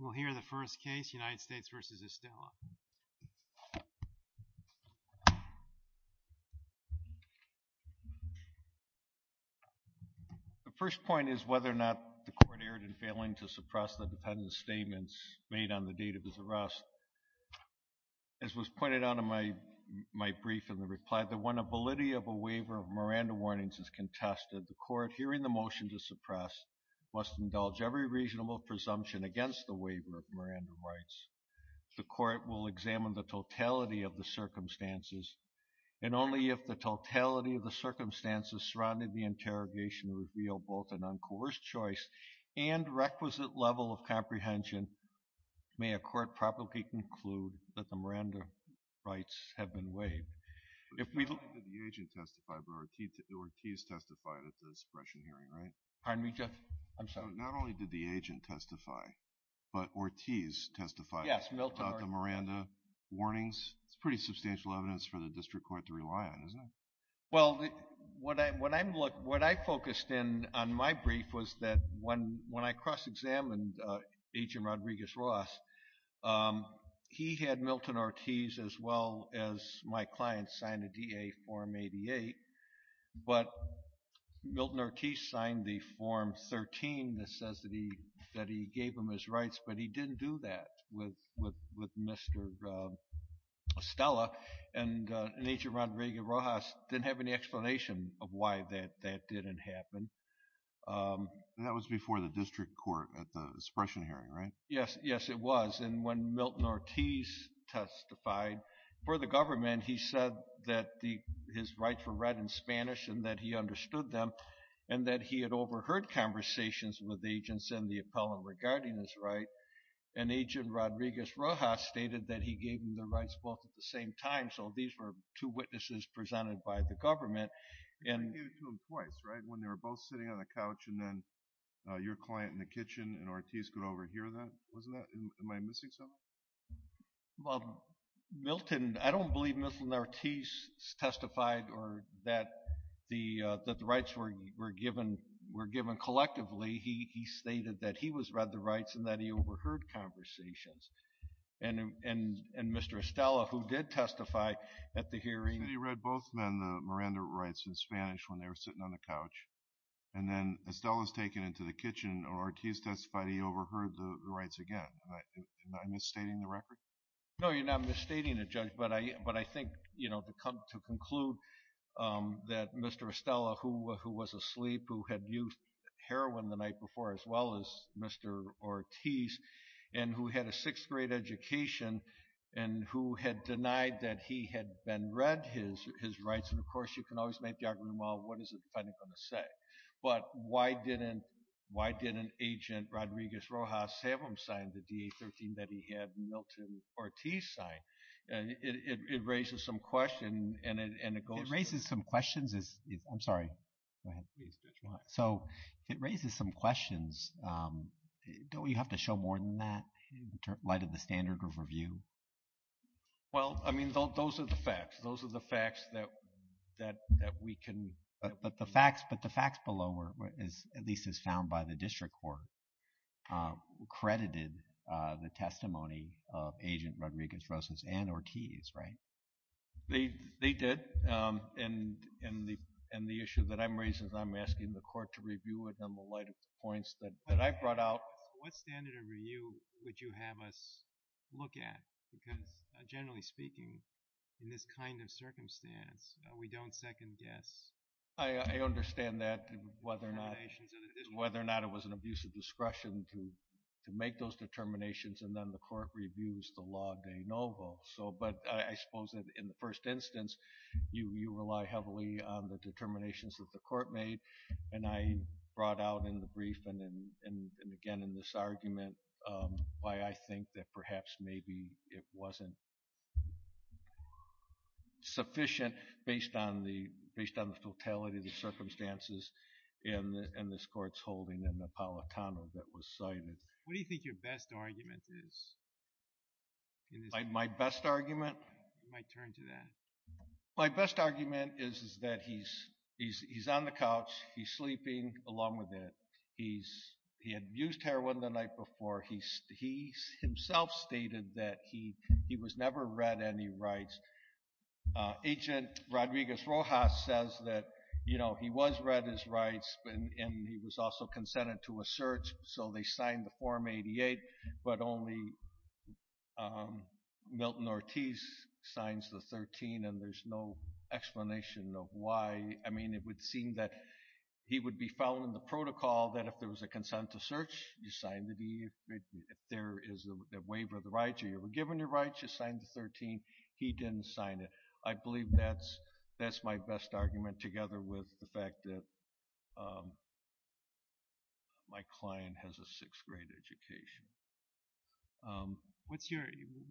We'll hear the first case, United States v. Estella. The first point is whether or not the court erred in failing to suppress the defendant's statements made on the date of his arrest. As was pointed out in my brief in the reply, the one ability of a waiver of Miranda warnings is contested. The court, hearing the motion to suppress, must indulge every reasonable presumption against the waiver of Miranda rights. The court will examine the totality of the circumstances, and only if the totality of the circumstances surrounding the interrogation reveal both an uncoerced choice and requisite level of comprehension may a court properly conclude that the Miranda rights have been waived. Not only did the agent testify, but Ortiz testified at the suppression hearing, right? Pardon me, Judge? I'm sorry. Not only did the agent testify, but Ortiz testified about the Miranda warnings? It's pretty substantial evidence for the district court to rely on, isn't it? Well, what I focused in on my brief was that when I cross-examined Agent Rodriguez-Ross, he had Milton Ortiz, as well as my client, sign a DA Form 88, but Milton Ortiz signed the Form 13 that says that he gave him his rights, but he didn't do that with Mr. Estella, and Agent Rodriguez-Ross didn't have any explanation of why that didn't happen. That was before the district court at the suppression hearing, right? Yes. Yes, it was. And when Milton Ortiz testified for the government, he said that his rights were read in Spanish and that he understood them and that he had overheard conversations with agents in the appellant regarding his right, and Agent Rodriguez-Ross stated that he gave him the rights both at the same time, so these were two witnesses presented by the government. You gave it to them twice, right? When they were both sitting on the couch and then your client in the kitchen and Ortiz could overhear that, wasn't that? Am I missing something? Well, Milton, I don't believe Milton Ortiz testified that the rights were given collectively. He stated that he read the rights and that he overheard conversations, and Mr. Estella, who did testify at the hearing. He read both Miranda rights in Spanish when they were sitting on the couch, and then Estella was taken into the kitchen, and Ortiz testified he overheard the rights again. Am I misstating the record? No, you're not misstating it, Judge, but I think, you know, to conclude that Mr. Estella, who was asleep, who had used heroin the night before, as well as Mr. Ortiz, and who had a sixth-grade education, and who had denied that he had been read his rights, and of course you can always make the argument, well, what is the defendant going to say? But why didn't Agent Rodriguez-Rojas have him sign the DA-13 that he had Milton Ortiz sign? It raises some questions, and it goes to… It raises some questions. I'm sorry. Go ahead. So, it raises some questions. Don't we have to show more than that in light of the standard of review? Well, I mean, those are the facts. Those are the facts that we can… But the facts below, at least as found by the district court, credited the testimony of Agent Rodriguez-Rojas and Ortiz, right? They did, and the issue that I'm raising is I'm asking the court to review it in the light of the points that I brought out. What standard of review would you have us look at? Because generally speaking, in this kind of circumstance, we don't second guess. I understand that, whether or not it was an abuse of discretion to make those determinations, and then the court reviews the law de novo. But I suppose that in the first instance, you rely heavily on the determinations that the court made, and I brought out in the brief and again in this argument why I think that perhaps maybe it wasn't sufficient based on the totality of the circumstances in this court's holding in the Palatano that was cited. What do you think your best argument is? My best argument? You might turn to that. My best argument is that he's on the couch, he's sleeping along with it, he's… He himself stated that he was never read any rights. Agent Rodriguez-Rojas says that he was read his rights, and he was also consented to a search, so they signed the Form 88, but only Milton Ortiz signs the 13, and there's no explanation of why. I mean, it would seem that he would be following the protocol that if there was a consent to search, you sign the deed. If there is a waiver of the rights or you were given your rights, you signed the 13. He didn't sign it. I believe that's my best argument together with the fact that my client has a sixth-grade education. What's your…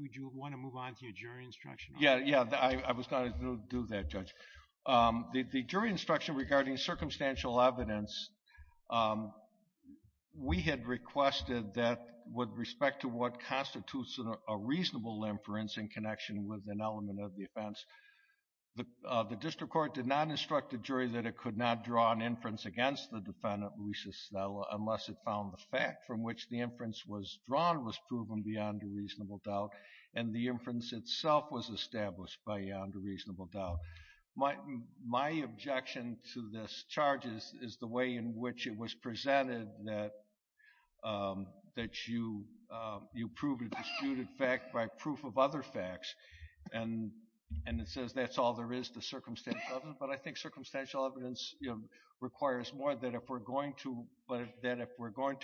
Would you want to move on to your jury instruction? Yeah, yeah. I was going to do that, Judge. The jury instruction regarding circumstantial evidence, we had requested that with respect to what constitutes a reasonable inference in connection with an element of the offense, the district court did not instruct the jury that it could not draw an inference against the defendant, Luisa Stella, unless it found the fact from which the inference was drawn was proven beyond a reasonable doubt, and the inference itself was established beyond a reasonable doubt. My objection to this charge is the way in which it was presented that you prove a disputed fact by proof of other facts, and it says that's all there is to circumstantial evidence, but I think circumstantial evidence requires more that if we're going to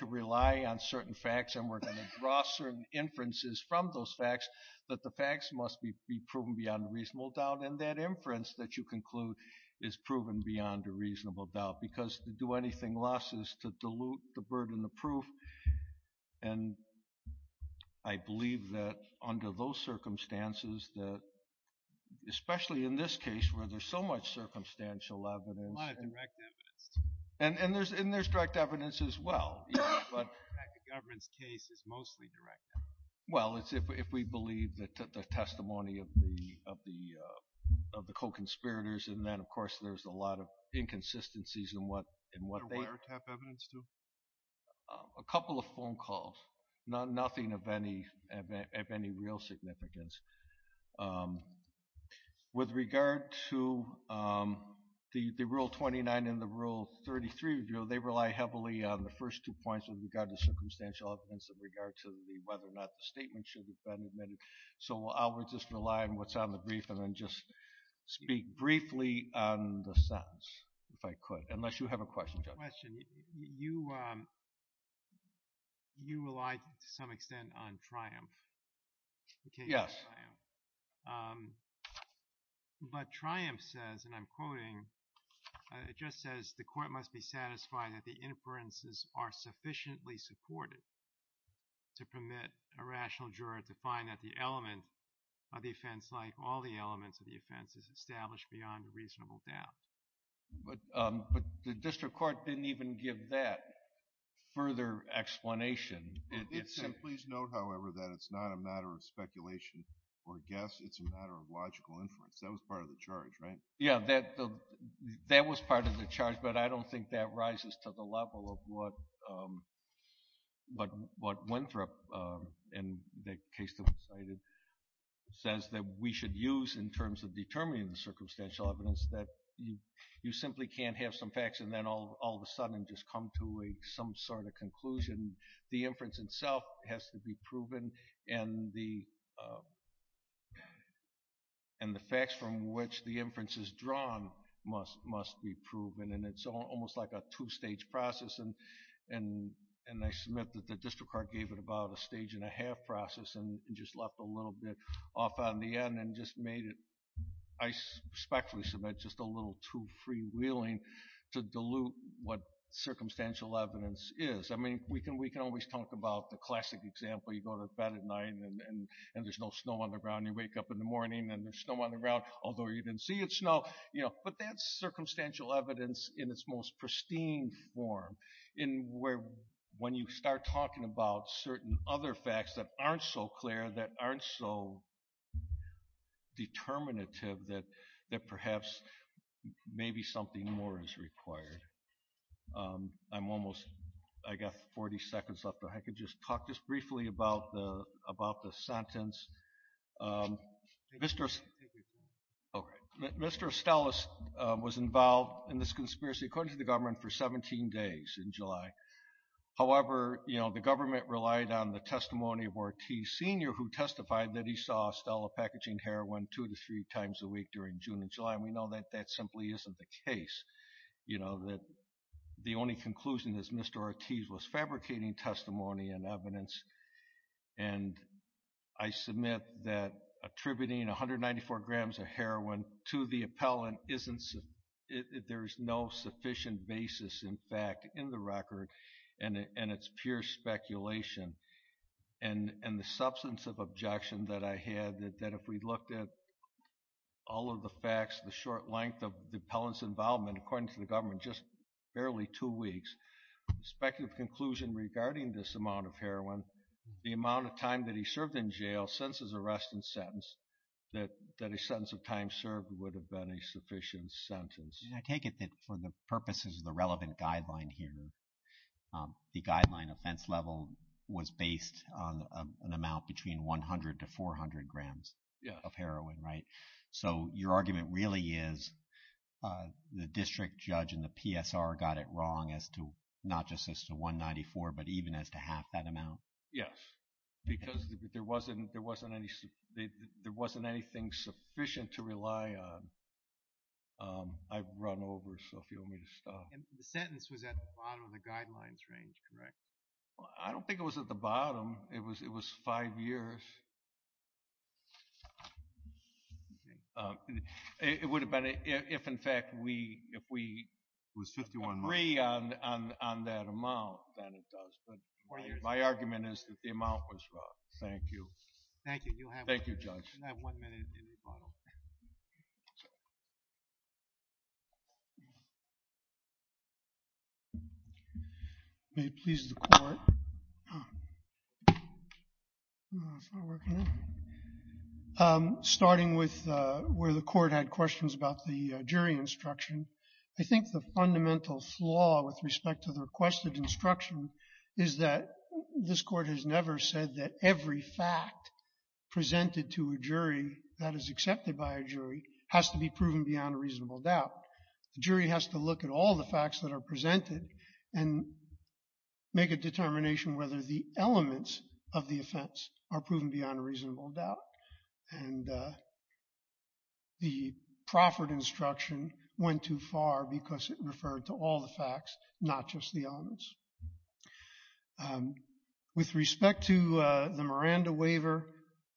rely on certain facts and we're going to draw certain inferences from those facts, that the facts must be proven beyond a reasonable doubt, and that inference that you conclude is proven beyond a reasonable doubt, because to do anything less is to dilute the burden of proof, and I believe that under those circumstances, especially in this case where there's so much circumstantial evidence… A lot of direct evidence. And there's direct evidence as well, but… In fact, the government's case is mostly direct. Well, it's if we believe the testimony of the co-conspirators, and then, of course, there's a lot of inconsistencies in what they… Or wiretap evidence, too. A couple of phone calls, nothing of any real significance. With regard to the Rule 29 and the Rule 33, they rely heavily on the first two points in regard to circumstantial evidence in regard to whether or not the statement should have been admitted. So I'll just rely on what's on the brief and then just speak briefly on the sentence, if I could, unless you have a question, Judge. Question. You relied to some extent on Triumph. Yes. But Triumph says, and I'm quoting, it just says, the court must be satisfied that the inferences are sufficiently supported to permit a rational juror to find that the element of the offense, like all the elements of the offense, is established beyond a reasonable doubt. But the district court didn't even give that further explanation. It did say, please note, however, that it's not a matter of speculation or guess. It's a matter of logical inference. That was part of the charge, right? Yeah, that was part of the charge. But I don't think that rises to the level of what Winthrop, in the case that was cited, says that we should use in terms of determining the circumstantial evidence, that you simply can't have some facts and then all of a sudden just come to some sort of conclusion. The inference itself has to be proven and the facts from which the inference is drawn must be proven. And it's almost like a two-stage process. And I submit that the district court gave it about a stage-and-a-half process and just left a little bit off on the end and just made it, I respectfully submit, just a little too freewheeling to dilute what circumstantial evidence is. I mean, we can always talk about the classic example. You go to bed at night and there's no snow on the ground. You wake up in the morning and there's snow on the ground, although you didn't see it snow. But that's circumstantial evidence in its most pristine form, in where when you start talking about certain other facts that aren't so clear, that aren't so determinative, that perhaps maybe something more is required. I'm almost, I've got 40 seconds left. If I could just talk just briefly about the sentence. Mr. Estella was involved in this conspiracy, according to the government, for 17 days in July. However, you know, the government relied on the testimony of Ortiz Sr., who testified that he saw Estella packaging heroin two to three times a week during June and July. And we know that that simply isn't the case. You know, the only conclusion is Mr. Ortiz was fabricating testimony and evidence. And I submit that attributing 194 grams of heroin to the appellant isn't, there's no sufficient basis, in fact, in the record, and it's pure speculation. And the substance of objection that I had, that if we looked at all of the facts, the short length of the appellant's involvement, according to the government, just barely two weeks, the speculative conclusion regarding this amount of heroin, the amount of time that he served in jail, since his arrest and sentence, that a sentence of time served would have been a sufficient sentence. I take it that for the purposes of the relevant guideline here, the guideline offense level was based on an amount between 100 to 400 grams of heroin, right? So your argument really is the district judge and the PSR got it wrong as to not just as to 194, but even as to half that amount? Yes, because there wasn't anything sufficient to rely on. I've run over, so if you want me to stop. The sentence was at the bottom of the guidelines range, correct? I don't think it was at the bottom. It was five years. It would have been, if in fact we agree on that amount, then it does. But my argument is that the amount was wrong. Thank you. Thank you. Thank you, Judge. I have one minute in rebuttal. May it please the Court. Starting with where the Court had questions about the jury instruction, I think the fundamental flaw with respect to the requested instruction is that this Court has never said that every fact presented to a jury that is accepted by a jury has to be proven beyond a reasonable doubt. The jury has to look at all the facts that are presented and make a determination whether the elements of the offense are proven beyond a reasonable doubt. And the proffered instruction went too far because it referred to all the facts, not just the elements. With respect to the Miranda waiver,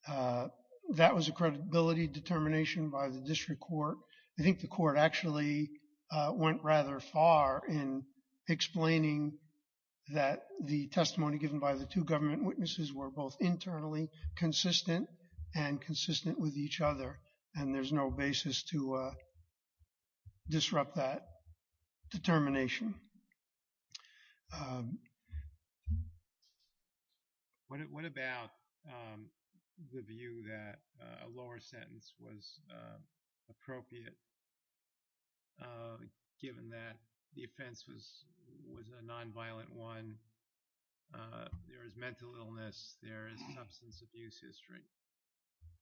that was a credibility determination by the District Court. I think the Court actually went rather far in explaining that the testimony given by the two government witnesses were both internally consistent and consistent with each other, and there's no basis to disrupt that determination. What about the view that a lower sentence was appropriate, given that the offense was a nonviolent one? There is mental illness. There is substance abuse history.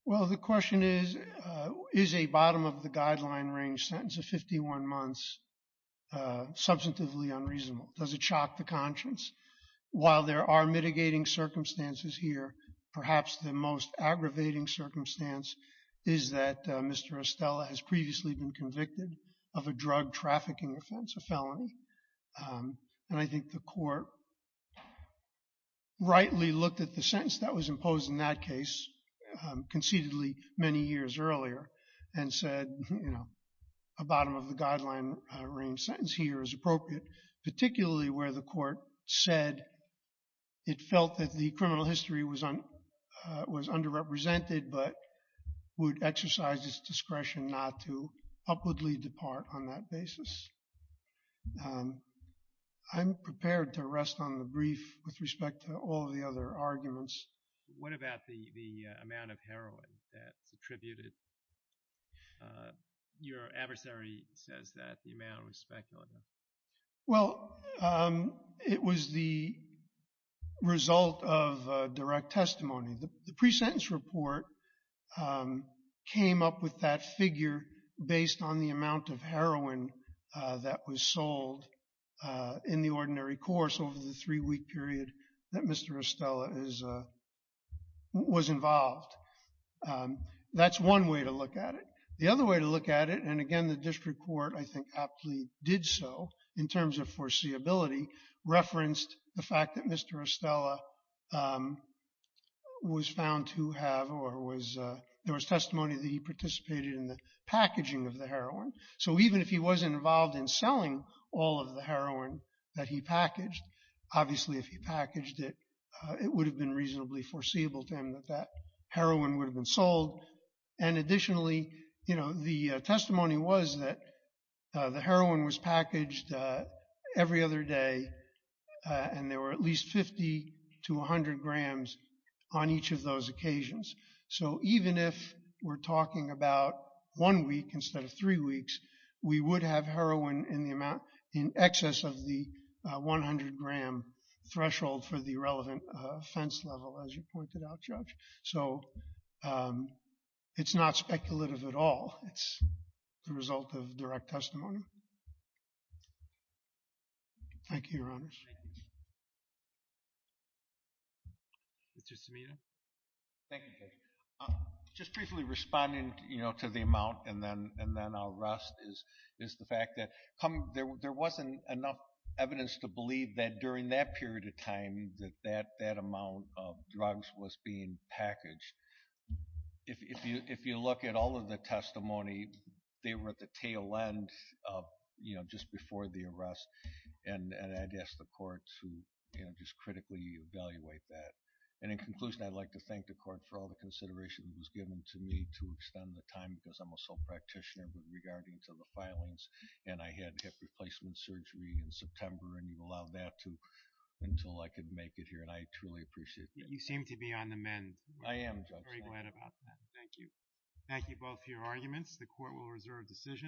Well, the question is, is a bottom of the guideline range sentence of 51 months substantively unreasonable? Does it shock the conscience? While there are mitigating circumstances here, perhaps the most aggravating circumstance is that Mr. Estella has previously been convicted of a drug trafficking offense, a felony. And I think the Court rightly looked at the sentence that was imposed in that case, conceitedly many years earlier, and said, you know, a bottom of the guideline range sentence here is appropriate, particularly where the Court said it felt that the criminal history was underrepresented but would exercise its discretion not to upwardly depart on that basis. I'm prepared to rest on the brief with respect to all of the other arguments. What about the amount of heroin that's attributed? Your adversary says that the amount was speculative. Well, it was the result of direct testimony. The pre-sentence report came up with that figure based on the amount of heroin that was sold in the ordinary course over the three-week period that Mr. Estella was involved. That's one way to look at it. The other way to look at it, and again, the District Court, I think, aptly did so in terms of foreseeability, referenced the fact that Mr. Estella was found to have or there was testimony that he participated in the packaging of the heroin. So even if he wasn't involved in selling all of the heroin that he packaged, obviously if he packaged it, it would have been reasonably foreseeable to him that that heroin would have been sold. And additionally, you know, the testimony was that the heroin was packaged every other day and there were at least 50 to 100 grams on each of those occasions. So even if we're talking about one week instead of three weeks, we would have heroin in the amount in excess of the 100-gram threshold for the relevant offense level, as you pointed out, Judge. So it's not speculative at all. It's the result of direct testimony. Thank you, Your Honors. Mr. Cimino. Thank you, Judge. Just briefly responding, you know, to the amount and then I'll rest, is the fact that there wasn't enough evidence to believe that during that period of time that that amount of drugs was being packaged. If you look at all of the testimony, they were at the tail end, you know, just before the arrest. And I'd ask the Court to, you know, just critically evaluate that. And in conclusion, I'd like to thank the Court for all the consideration that was given to me to extend the time because I'm a sole practitioner with regarding to the filings and I had hip replacement surgery in September and you allowed that until I could make it here and I truly appreciate that. You seem to be on the mend. I am, Judge. I'm very glad about that. Thank you. Thank you both for your arguments. The Court will reserve decision.